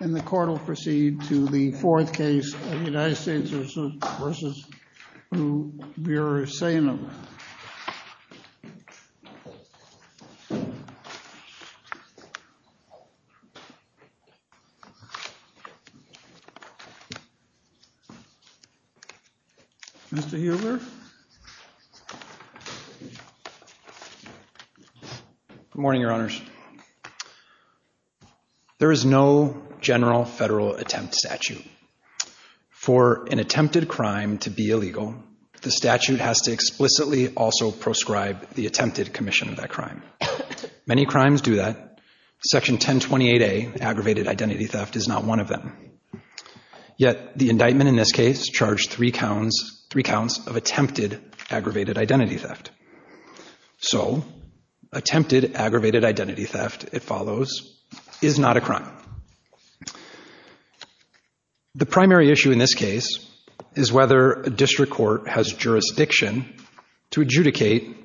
and the court will proceed to the fourth case of United States v. Ionel Muresanu. Mr. Huber? Good morning, your honors. Your honors, there is no general federal attempt statute. For an attempted crime to be illegal, the statute has to explicitly also proscribe the attempted commission of that crime. Many crimes do that. Section 1028A, aggravated identity theft, is not one of them. Yet the indictment in this case charged three counts of attempted aggravated identity theft. So, attempted aggravated identity theft, it follows, is not a crime. The primary issue in this case is whether a district court has jurisdiction to adjudicate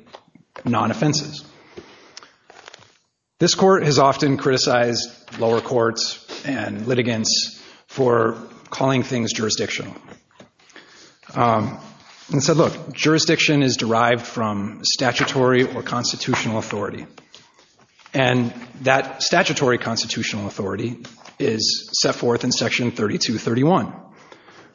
non-offenses. This court has often criticized lower courts and litigants for calling things jurisdictional. And said, look, jurisdiction is derived from statutory or constitutional authority. And that statutory constitutional authority is set forth in Section 3231,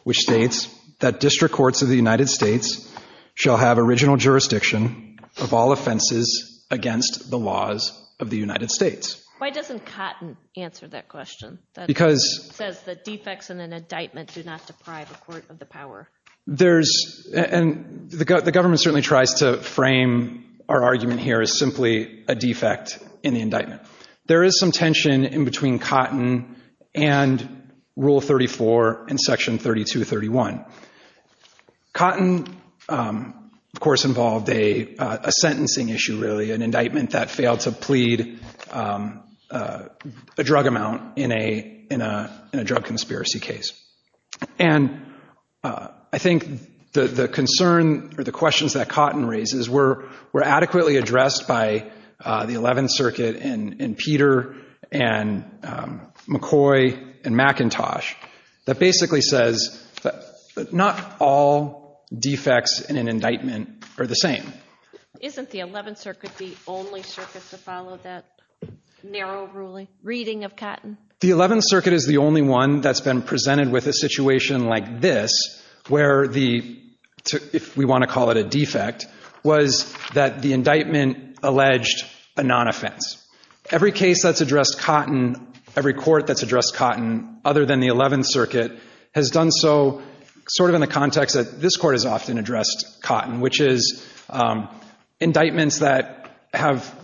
which states that district courts of the United States shall have original jurisdiction of all offenses against the laws of the United States. Why doesn't Cotton answer that question? Because. It says that defects in an indictment do not deprive a court of the power. There's, and the government certainly tries to frame our argument here as simply a defect in the indictment. There is some tension in between Cotton and Rule 34 in Section 3231. Cotton, of course, involved a sentencing issue, really, an indictment that failed to plead a drug amount in a drug conspiracy case. And I think the concern or the questions that Cotton raises were adequately addressed by the 11th Circuit and Peter and McCoy and McIntosh. That basically says that not all defects in an indictment are the same. Isn't the 11th Circuit the only circuit to follow that narrow ruling, reading of Cotton? The 11th Circuit is the only one that's been presented with a situation like this, where the, if we want to call it a defect, was that the indictment alleged a non-offense. Every case that's addressed Cotton, every court that's addressed Cotton other than the 11th Circuit, has done so sort of in the context that this court has often addressed Cotton, which is indictments that have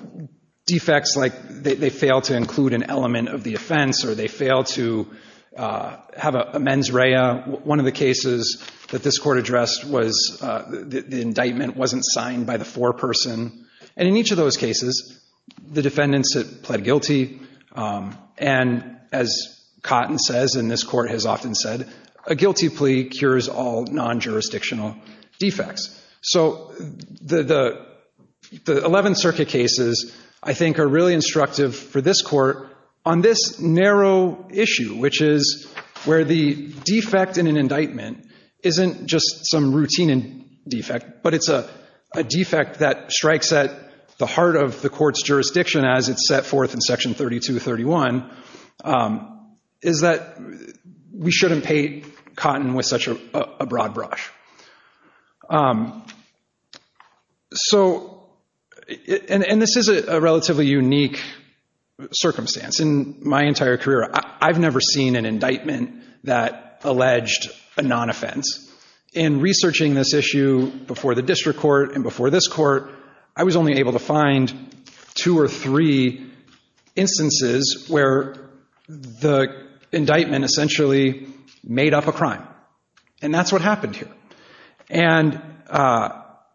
defects like they fail to include an element of the offense or they fail to have a mens rea. One of the cases that this court addressed was the indictment wasn't signed by the foreperson. And in each of those cases, the defendants had pled guilty. And as Cotton says, and this court has often said, a guilty plea cures all non-jurisdictional defects. So the 11th Circuit cases, I think, are really instructive for this court. On this narrow issue, which is where the defect in an indictment isn't just some routine defect, but it's a defect that strikes at the heart of the court's jurisdiction as it's set forth in Section 3231, is that we shouldn't paint Cotton with such a broad brush. So, and this is a relatively unique circumstance. In my entire career, I've never seen an indictment that alleged a non-offense. In researching this issue before the district court and before this court, I was only able to find two or three instances where the indictment essentially made up a crime. And that's what happened here. And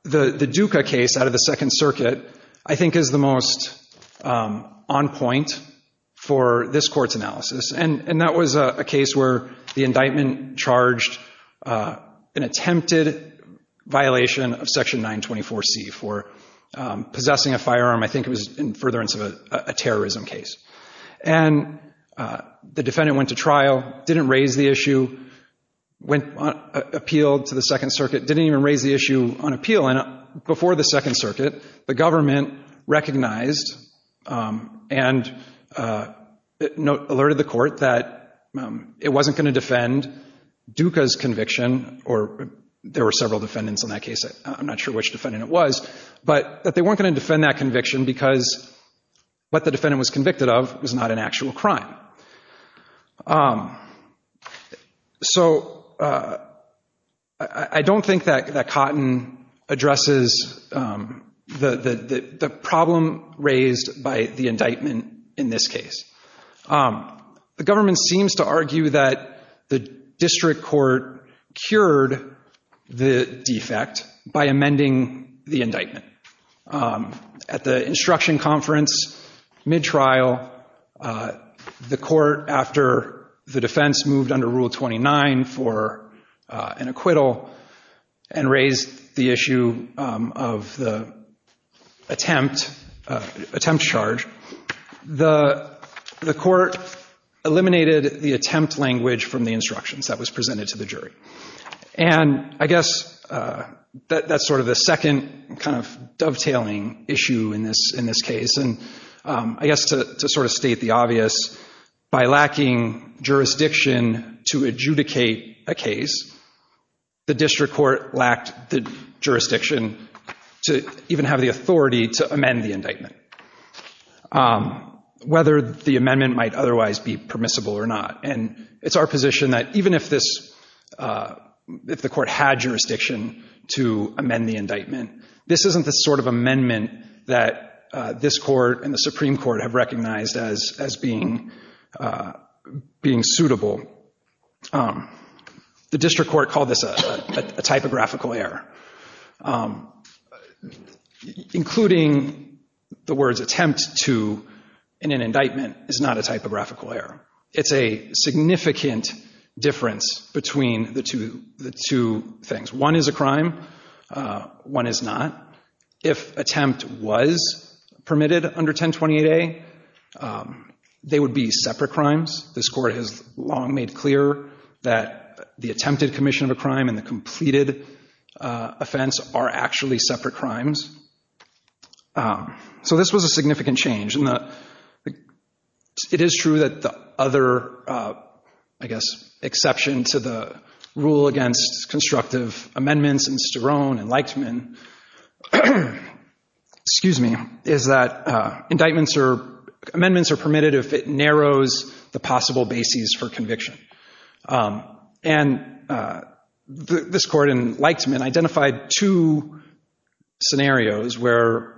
the Duca case out of the Second Circuit, I think, is the most on point for this court's analysis. And that was a case where the indictment charged an attempted violation of Section 924C for possessing a firearm. I think it was in furtherance of a terrorism case. And the defendant went to trial, didn't raise the issue, appealed to the Second Circuit, didn't even raise the issue on appeal. And before the Second Circuit, the government recognized and alerted the court that it wasn't going to defend Duca's conviction, or there were several defendants in that case, I'm not sure which defendant it was, but that they weren't going to defend that conviction because what the defendant was convicted of was not an actual crime. So I don't think that Cotton addresses the problem raised by the indictment in this case. The government seems to argue that the district court cured the defect by amending the indictment. At the instruction conference, mid-trial, the court, after the defense moved under Rule 29 for an acquittal and raised the issue of the attempt charge, the court eliminated the attempt language from the instructions that was presented to the jury. And I guess that's sort of the second kind of dovetailing issue in this case. I guess to sort of state the obvious, by lacking jurisdiction to adjudicate a case, the district court lacked the jurisdiction to even have the authority to amend the indictment, whether the amendment might otherwise be permissible or not. And it's our position that even if the court had jurisdiction to amend the indictment, this isn't the sort of amendment that this court and the Supreme Court have recognized as being suitable. The district court called this a typographical error. Including the words attempt to in an indictment is not a typographical error. It's a significant difference between the two things. One is a crime. One is not. If attempt was permitted under 1028A, they would be separate crimes. This court has long made clear that the attempted commission of a crime and the completed offense are actually separate crimes. So this was a significant change. It is true that the other, I guess, exception to the rule against constructive amendments in Sterone and Leichtman, is that amendments are permitted if it narrows the possible bases for conviction. And this court in Leichtman identified two scenarios where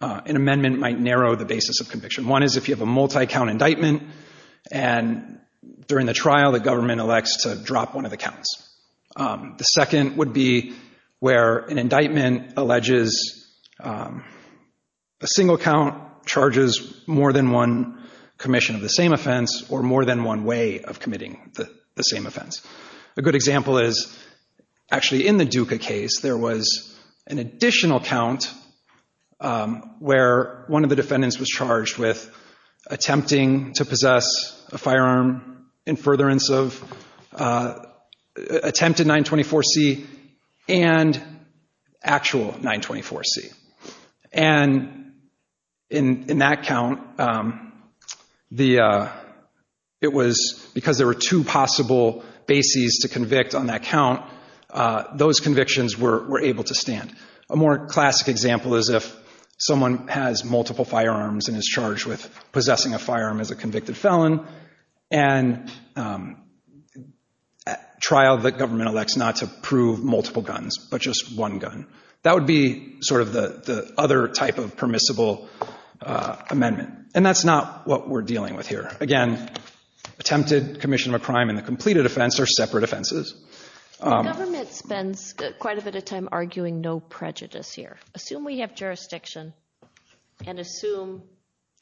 an amendment might narrow the basis of conviction. One is if you have a multi-count indictment and during the trial the government elects to drop one of the counts. The second would be where an indictment alleges a single count charges more than one commission of the same offense or more than one way of committing the same offense. A good example is actually in the Duca case there was an additional count where one of the defendants was charged with attempting to possess a firearm in furtherance of attempted 924C and actual 924C. And in that count, it was because there were two possible bases to convict on that count, those convictions were able to stand. A more classic example is if someone has multiple firearms and is charged with possessing a firearm as a convicted felon and trial that government elects not to prove multiple guns but just one gun. That would be sort of the other type of permissible amendment. And that's not what we're dealing with here. Again, attempted commission of a crime and the completed offense are separate offenses. The government spends quite a bit of time arguing no prejudice here. Assume we have jurisdiction and assume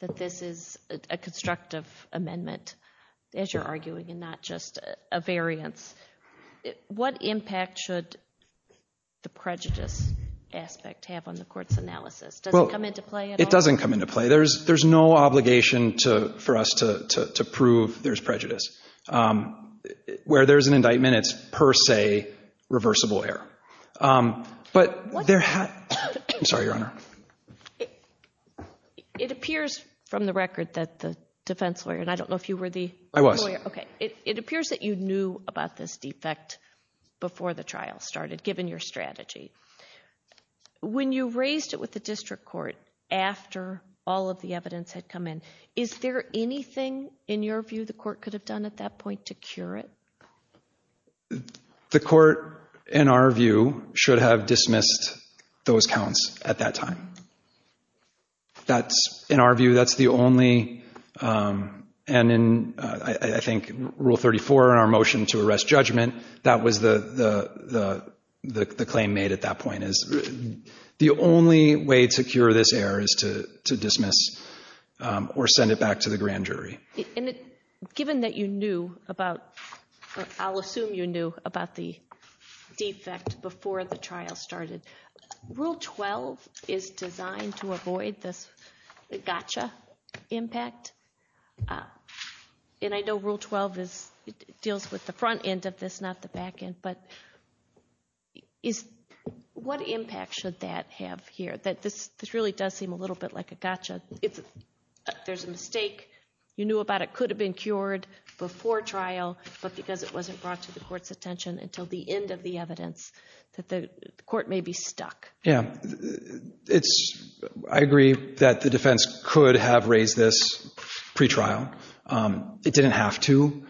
that this is a constructive amendment as you're arguing and not just a variance. What impact should the prejudice aspect have on the court's analysis? Does it come into play at all? It doesn't come into play. There's no obligation for us to prove there's prejudice. Where there's an indictment, it's per se reversible error. But there have—I'm sorry, Your Honor. It appears from the record that the defense lawyer, and I don't know if you were the lawyer. I was. Okay. It appears that you knew about this defect before the trial started, given your strategy. When you raised it with the district court after all of the evidence had come in, is there anything, in your view, the court could have done at that point to cure it? The court, in our view, should have dismissed those counts at that time. In our view, that's the only—and I think Rule 34 in our motion to arrest judgment, that was the claim made at that point is the only way to cure this error is to dismiss or send it back to the grand jury. Given that you knew about—I'll assume you knew about the defect before the trial started, Rule 12 is designed to avoid this gotcha impact. And I know Rule 12 deals with the front end of this, not the back end. But what impact should that have here? This really does seem a little bit like a gotcha. If there's a mistake you knew about, it could have been cured before trial, but because it wasn't brought to the court's attention until the end of the evidence, that the court may be stuck. Yeah, I agree that the defense could have raised this pretrial. It didn't have to.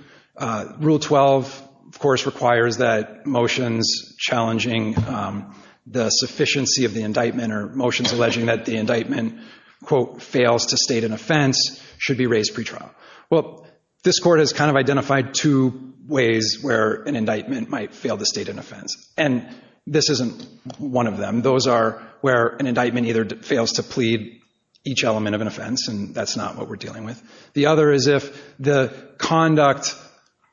Rule 12, of course, requires that motions challenging the sufficiency of the indictment or motions alleging that the indictment, quote, fails to state an offense should be raised pretrial. Well, this court has kind of identified two ways where an indictment might fail to state an offense, and this isn't one of them. Those are where an indictment either fails to plead each element of an offense, and that's not what we're dealing with. The other is if the conduct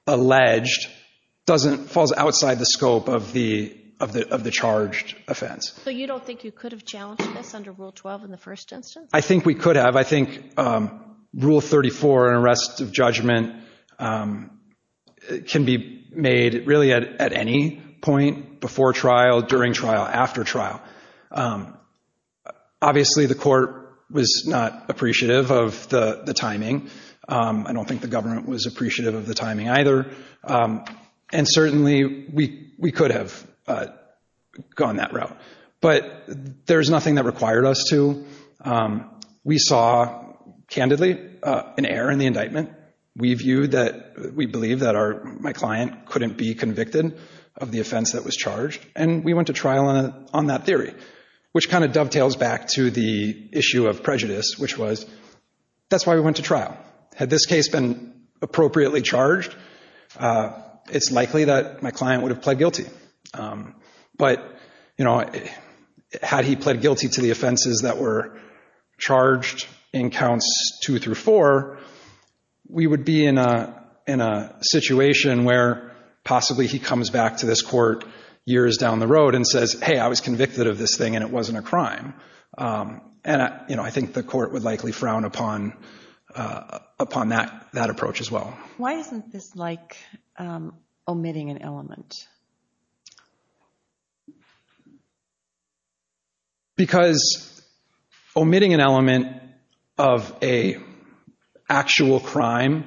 alleged falls outside the scope of the charged offense. So you don't think you could have challenged this under Rule 12 in the first instance? I think we could have. I think Rule 34, an arrest of judgment, can be made really at any point before trial, during trial, after trial. Obviously, the court was not appreciative of the timing. I don't think the government was appreciative of the timing either, and certainly we could have gone that route. But there's nothing that required us to. We saw, candidly, an error in the indictment. We believe that my client couldn't be convicted of the offense that was charged, and we went to trial on that theory, which kind of dovetails back to the issue of prejudice, which was, that's why we went to trial. Had this case been appropriately charged, it's likely that my client would have pled guilty. But had he pled guilty to the offenses that were charged in Counts 2 through 4, we would be in a situation where possibly he comes back to this court years down the road and says, hey, I was convicted of this thing and it wasn't a crime. And I think the court would likely frown upon that approach as well. Why isn't this like omitting an element? Because omitting an element of an actual crime,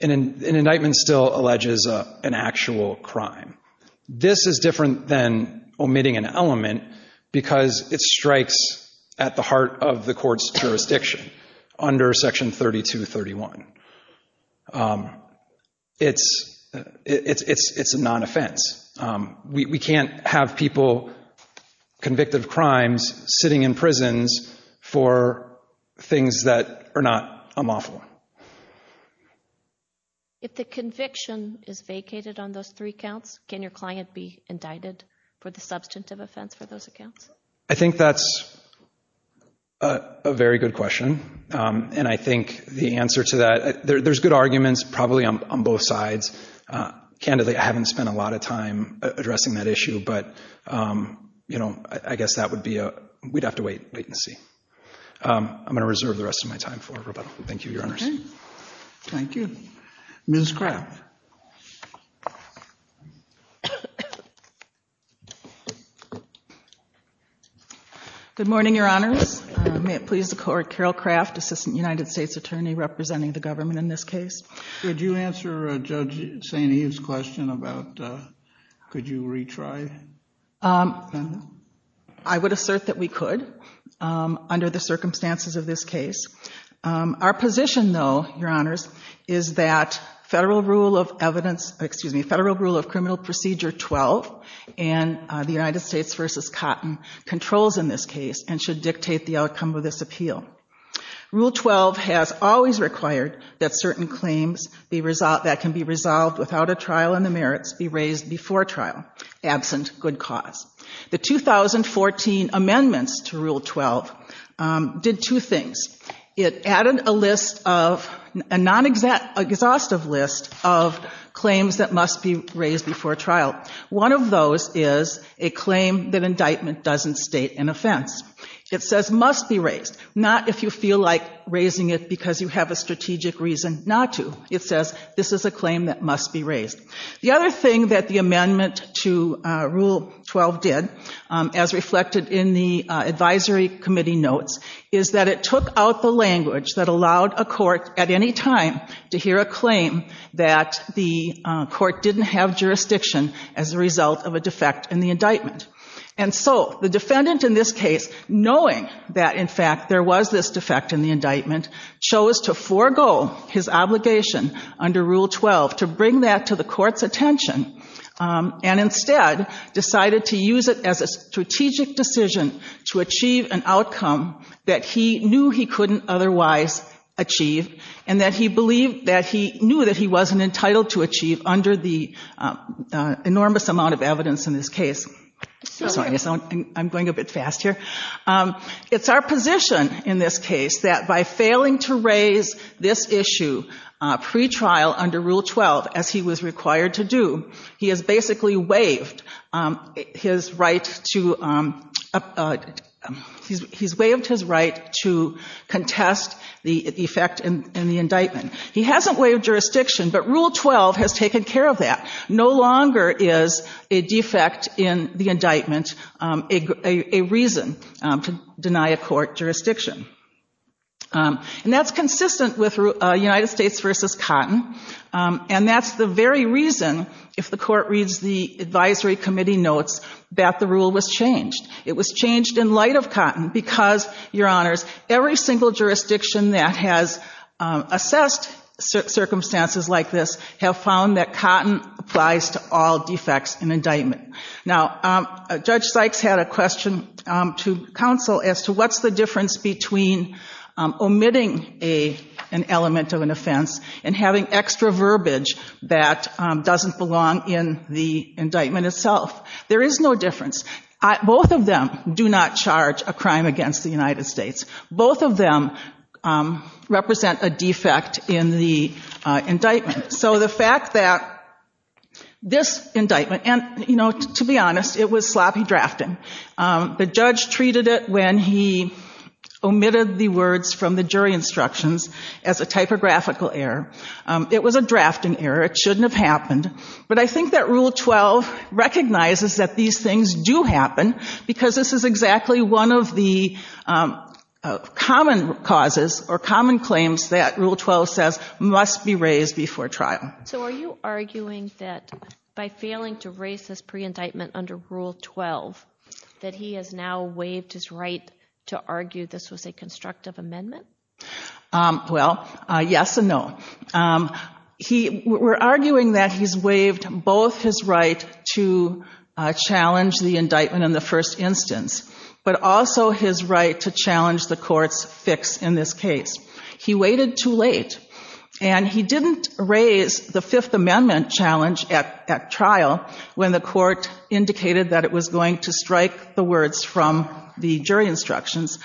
an indictment still alleges an actual crime. This is different than omitting an element because it strikes at the heart of the court's jurisdiction under Section 3231. It's a non-offense. We can't have people convicted of crimes sitting in prisons for things that are not unlawful. If the conviction is vacated on those three counts, can your client be indicted for the substantive offense for those accounts? I think that's a very good question. And I think the answer to that, there's good arguments probably on both sides. Candidly, I haven't spent a lot of time addressing that issue. But, you know, I guess that would be, we'd have to wait and see. I'm going to reserve the rest of my time for rebuttal. Thank you, Your Honors. Thank you. Ms. Craft. Good morning, Your Honors. May it please the Court, Carol Craft, Assistant United States Attorney representing the government in this case. Could you answer Judge St. Eve's question about could you retry? I would assert that we could under the circumstances of this case. Our position, though, Your Honors, is that Federal Rule of Evidence, excuse me, Federal Rule of Criminal Procedure 12 in the United States v. Cotton controls in this case and should dictate the outcome of this appeal. Rule 12 has always required that certain claims that can be resolved without a trial and the merits be raised before trial, absent good cause. The 2014 amendments to Rule 12 did two things. It added a list of, a non-exhaustive list of claims that must be raised before trial. One of those is a claim that indictment doesn't state an offense. It says must be raised, not if you feel like raising it because you have a strategic reason not to. It says this is a claim that must be raised. The other thing that the amendment to Rule 12 did, as reflected in the advisory committee notes, is that it took out the language that allowed a court at any time to hear a claim that the court didn't have jurisdiction as a result of a defect in the indictment. And so the defendant in this case, knowing that in fact there was this defect in the indictment, chose to forego his obligation under Rule 12 to bring that to the court's attention and instead decided to use it as a strategic decision to achieve an outcome that he knew he couldn't otherwise achieve and that he believed that he knew that he wasn't entitled to achieve under the enormous amount of evidence in this case. Sorry, I'm going a bit fast here. It's our position in this case that by failing to raise this issue pretrial under Rule 12 as he was required to do, he has basically waived his right to contest the defect in the indictment. He hasn't waived jurisdiction, but Rule 12 has taken care of that. No longer is a defect in the indictment a reason to deny a court jurisdiction. And that's consistent with United States v. Cotton, and that's the very reason, if the court reads the advisory committee notes, that the rule was changed. It was changed in light of Cotton because, Your Honors, every single jurisdiction that has assessed circumstances like this have found that Cotton applies to all defects in indictment. Now, Judge Sykes had a question to counsel as to what's the difference between omitting an element of an offense and having extra verbiage that doesn't belong in the indictment itself. There is no difference. Both of them do not charge a crime against the United States. Both of them represent a defect in the indictment. So the fact that this indictment, and to be honest, it was sloppy drafting. The judge treated it when he omitted the words from the jury instructions as a typographical error. It was a drafting error. It shouldn't have happened. But I think that Rule 12 recognizes that these things do happen because this is exactly one of the common causes or common claims that Rule 12 says must be raised before trial. So are you arguing that by failing to raise this pre-indictment under Rule 12, that he has now waived his right to argue this was a constructive amendment? Well, yes and no. We're arguing that he's waived both his right to challenge the indictment in the first instance, but also his right to challenge the court's fix in this case. He waited too late, and he didn't raise the Fifth Amendment challenge at trial when the court indicated that it was going to strike the words from the jury instructions.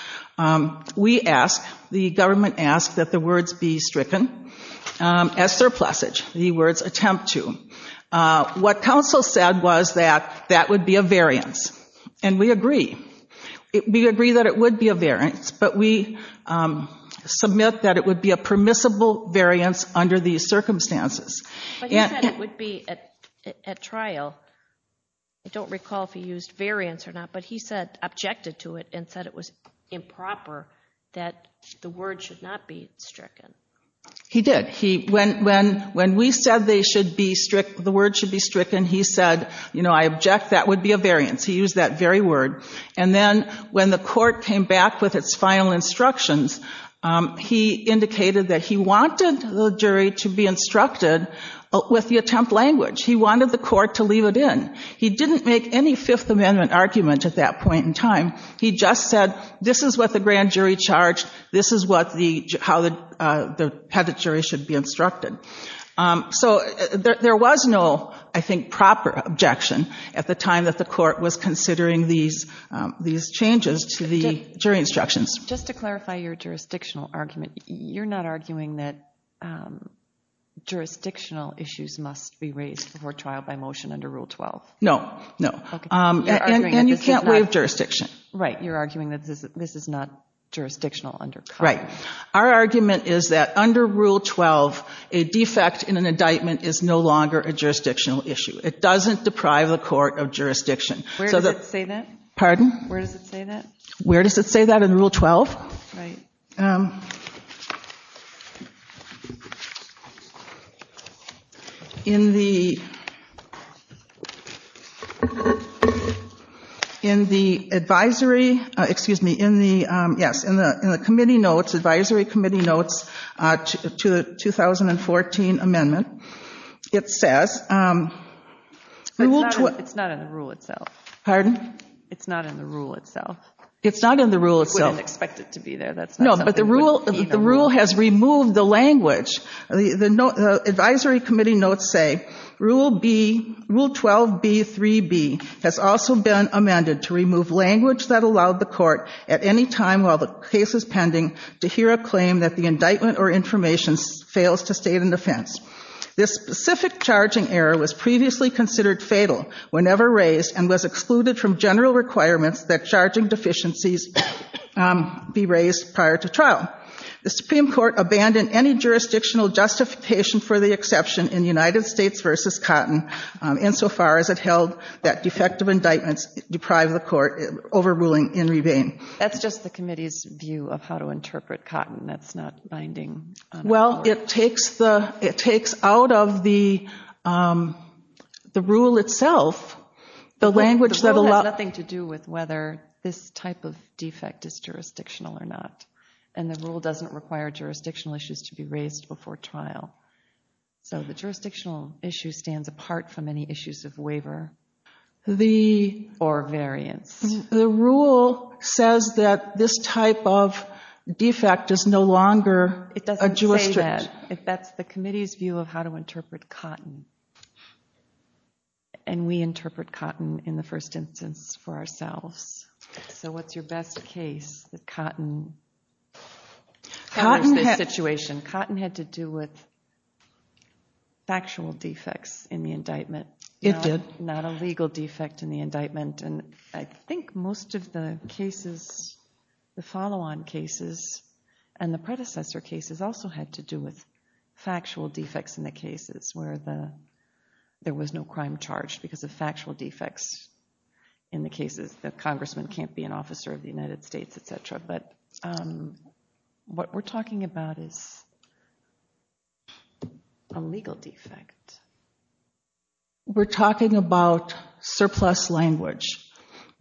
We ask, the government asks, that the words be stricken as surplusage. The words attempt to. What counsel said was that that would be a variance, and we agree. We agree that it would be a variance, but we submit that it would be a permissible variance under these circumstances. But he said it would be at trial. I don't recall if he used variance or not, but he said, objected to it and said it was improper that the word should not be stricken. He did. When we said the word should be stricken, he said, you know, I object. That would be a variance. He used that very word. And then when the court came back with its final instructions, he indicated that he wanted the jury to be instructed with the attempt language. He wanted the court to leave it in. He didn't make any Fifth Amendment argument at that point in time. He just said, this is what the grand jury charged. This is how the jury should be instructed. So there was no, I think, proper objection at the time that the court was considering these changes to the jury instructions. Just to clarify your jurisdictional argument, you're not arguing that jurisdictional issues must be raised before trial by motion under Rule 12? No. No. And you can't waive jurisdiction. Right. You're arguing that this is not jurisdictional under COPS. Right. Our argument is that under Rule 12, a defect in an indictment is no longer a jurisdictional issue. It doesn't deprive the court of jurisdiction. Where does it say that? Where does it say that in Rule 12? Right. In the advisory committee notes to the 2014 amendment, it says... It's not in the rule itself. We didn't expect it to be there. No, but the rule has removed the language. The advisory committee notes say... That's just the committee's view of how to interpret Cotton. That's not binding. Well, it takes out of the rule itself the language... It has nothing to do with whether this type of defect is jurisdictional or not. And the rule doesn't require jurisdictional issues to be raised before trial. So the jurisdictional issue stands apart from any issues of waiver or variance. The rule says that this type of defect is no longer a jurisdictional issue. It doesn't say that. That's the committee's view of how to interpret Cotton. And we interpret Cotton in the first instance for ourselves. So what's your best case that Cotton... Cotton had to do with factual defects in the indictment. It did. Not a legal defect in the indictment. And I think most of the cases... The follow-on cases and the predecessor cases also had to do with factual defects in the cases. Where there was no crime charged because of factual defects in the cases. The congressman can't be an officer of the United States, etc. But what we're talking about is a legal defect. We're talking about surplus language.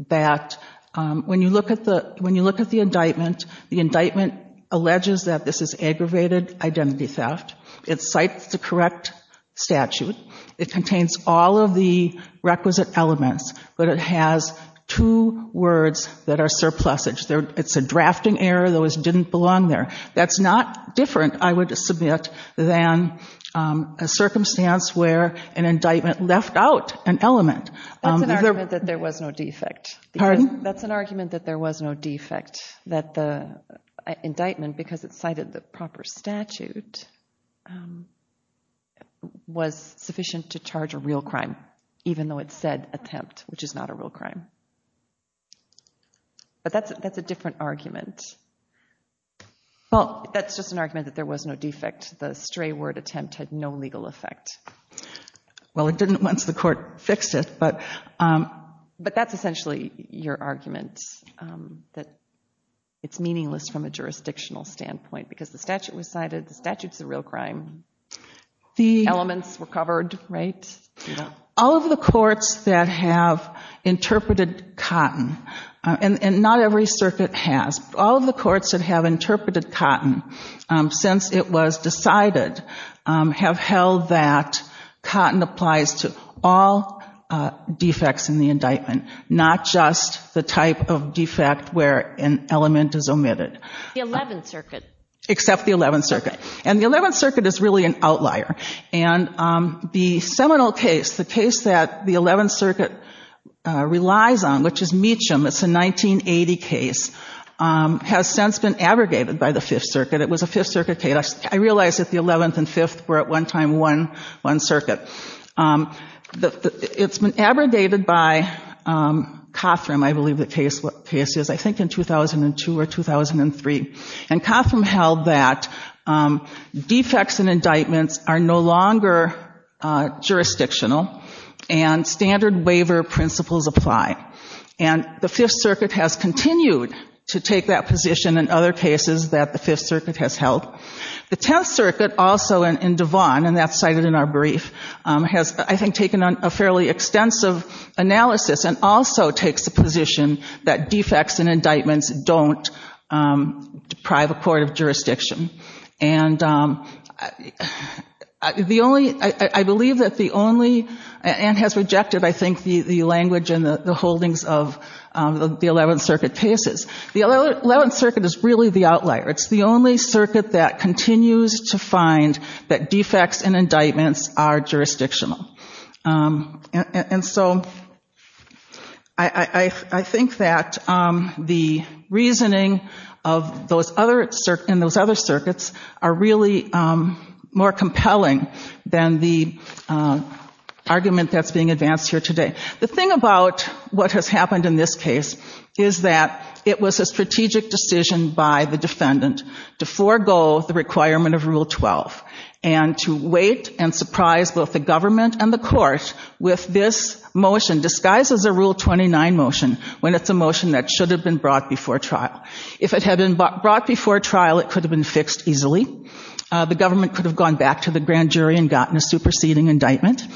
When you look at the indictment, the indictment alleges that this is aggravated identity theft. It cites the correct statute. It contains all of the requisite elements, but it has two words that are surplus. It's a drafting error. Those didn't belong there. That's not different, I would submit, than a circumstance where an indictment left out an element. That's an argument that there was no defect. That the indictment, because it cited the proper statute, was sufficient to charge a real crime, even though it said attempt, which is not a real crime. But that's a different argument. That's just an argument that there was no defect. The stray word attempt had no legal effect. Well, it didn't once the court fixed it. But that's essentially your argument, that it's meaningless from a jurisdictional standpoint. Because the statute was cited. The statute's a real crime. The elements were covered, right? All of the courts that have interpreted cotton, and not every circuit has, all of the courts that have interpreted cotton since it was decided, have held that cotton applies to all defects in the indictment, not just the type of defect where an element is omitted. The 11th Circuit. Except the 11th Circuit. And the 11th Circuit is really an outlier. And the seminal case, the case that the 11th Circuit relies on, which is Meacham, it's a 1980 case, has since been abrogated by the 5th Circuit. It was a 5th Circuit case. I realize that the 11th and 5th were at one time one circuit. It's been abrogated by Cothram, I believe the case is, I think in 2002 or 2003. And Cothram held that defects in indictments are no longer jurisdictional, and standard waiver principles apply. And the 5th Circuit has continued to take that position in other cases that the 5th Circuit has held. The 10th Circuit also, in Devon, and that's cited in our brief, has, I think, taken a fairly extensive analysis and also takes the position that defects in indictments don't deprive a court of jurisdiction. And the only, I believe that the only, and has rejected, I think, the language and the holdings of the 11th Circuit cases. The 11th Circuit is really the outlier. It's the only circuit that continues to find that defects in indictments are jurisdictional. And so I think that the reasoning in those other circuits are really more compelling than the argument that's being advanced here today. The thing about what has happened in this case is that it was a strategic decision by the defendant to forego the requirement of Rule 12 and to wait and surprise both the government and the court with this motion, disguised as a Rule 29 motion, when it's a motion that should have been brought before trial. If it had been brought before trial, it could have been fixed easily. The government could have gone back to the grand jury and gotten a superseding indictment.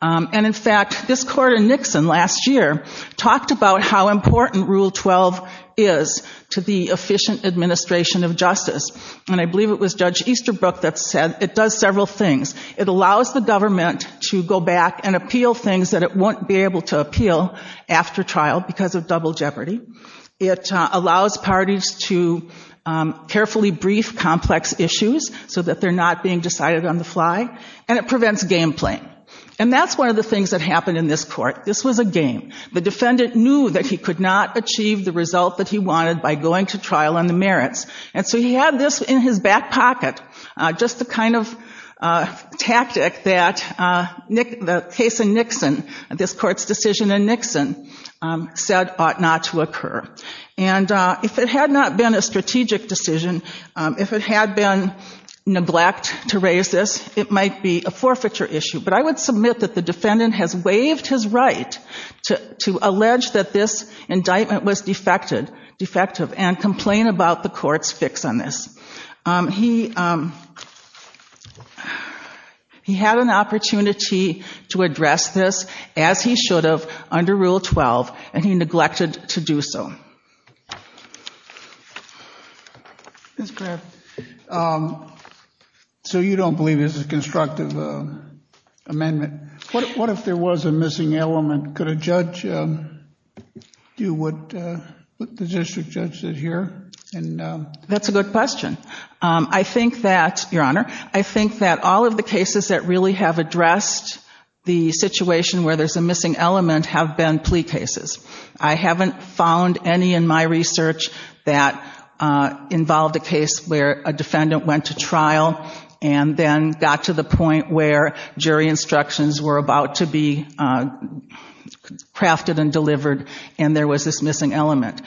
And in fact, this court in Nixon last year talked about how important Rule 12 is to the efficient administration of justice. And I believe it was Judge Easterbrook that said it does several things. It allows the government to go back and appeal things that it won't be able to appeal after trial because of double jeopardy. It allows parties to carefully brief complex issues so that they're not being decided on the fly. And it prevents game playing. And that's one of the things that happened in this court. This was a game. The defendant knew that he could not achieve the result that he wanted by going to trial on the merits. And so he had this in his back pocket, just the kind of tactic that the case in Nixon, this court's decision in Nixon, said ought not to occur. And if it had not been a strategic decision, if it had been neglect to raise this, it might be a forfeiture issue. But I would submit that the defendant has waived his right to allege that this indictment was defective and complain about the court's fix on this. He had an opportunity to address this, as he should have, under Rule 12, and he neglected to do so. Ms. Graff, so you don't believe this is a constructive amendment. What if there was a missing element? Could a judge do what the district judge did here? That's a good question. Your Honor, I think that all of the cases that really have addressed the situation where there's a missing element have been plea cases. I haven't found any in my research that involved a case where a defendant went to trial and then got to the point where jury instructions were about to be crafted and delivered and there was this missing element.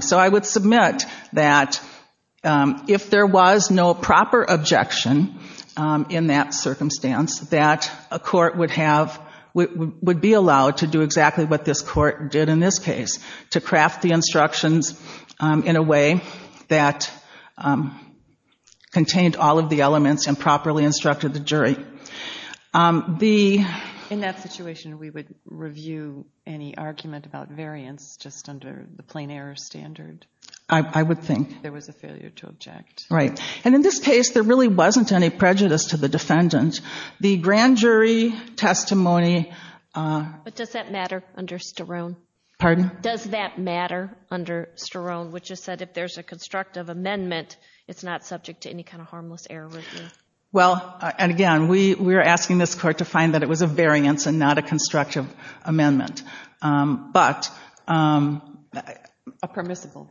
So I would submit that if there was no proper objection in that circumstance, that a court would be allowed to do exactly what this court did in this case, to craft the instructions in a way that contained all of the elements and properly instructed the jury. In that situation, we would review any argument about variance just under the plain error standard? I would think. There was a failure to object. Right. And in this case, there really wasn't any prejudice to the defendant. The grand jury testimony... But does that matter under Sterone? Pardon? Does that matter under Sterone, which is that if there's a constructive amendment, it's not subject to any kind of harmless error review? Well, and again, we were asking this court to find that it was a variance and not a constructive amendment. But... A permissible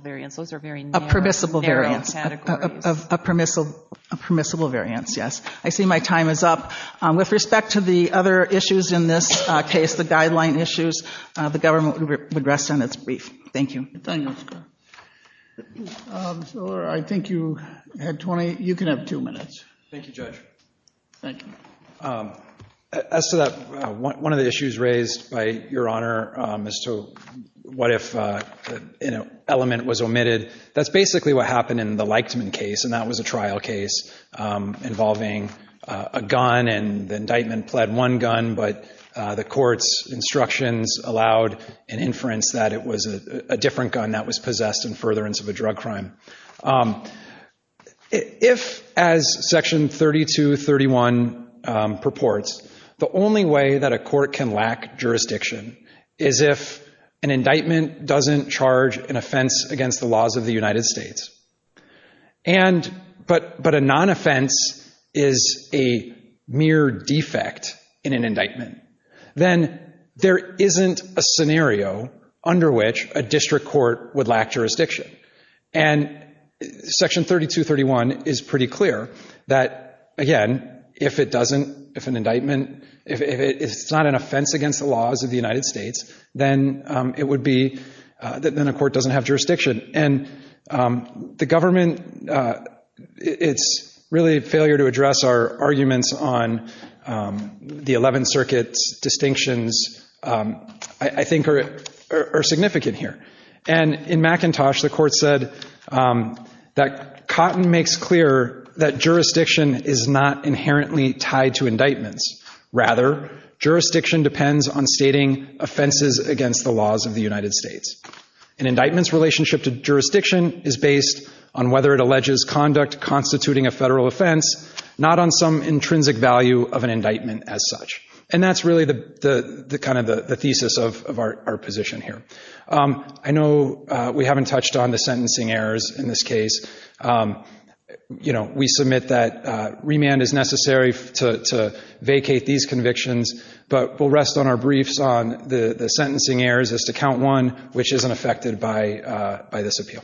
variance. Those are very narrow categories. A permissible variance, yes. I see my time is up. With respect to the other issues in this case, the guideline issues, the government would rest on its brief. Thank you. Mr. O'Leary, I think you had 20. You can have two minutes. Thank you, Judge. One of the issues raised by Your Honor as to what if an element was omitted, that's basically what happened in the Leichtman case, and that was a trial case involving a gun, and the indictment pled one gun, but the court's instructions allowed an inference that it was a different gun that was possessed in furtherance of a drug crime. If, as Section 3231 purports, the only way that a court can lack jurisdiction is if an indictment doesn't charge an offense against the laws of the United States, but a non-offense is a mere defect in an indictment, then there isn't a scenario under which a district court would lack jurisdiction. And Section 3231 is pretty clear that, again, if it doesn't, if an indictment, if it's not an offense against the laws of the United States, then it would be, then a court doesn't have jurisdiction. And the government, it's really a failure to address our arguments on the 11th Circuit's distinctions, I think, are significant here. And in McIntosh, the court said that Cotton makes clear that jurisdiction is not inherently tied to indictments. Rather, jurisdiction depends on stating offenses against the laws of the United States. An indictment's relationship to jurisdiction is based on whether it alleges conduct constituting a federal offense, not on some intrinsic value of an indictment as such. And that's really kind of the thesis of our position here. I know we haven't touched on the sentencing errors in this case. We submit that remand is necessary to vacate these convictions, but we'll rest on our briefs on the sentencing errors as to Count 1, which isn't affected by this appeal.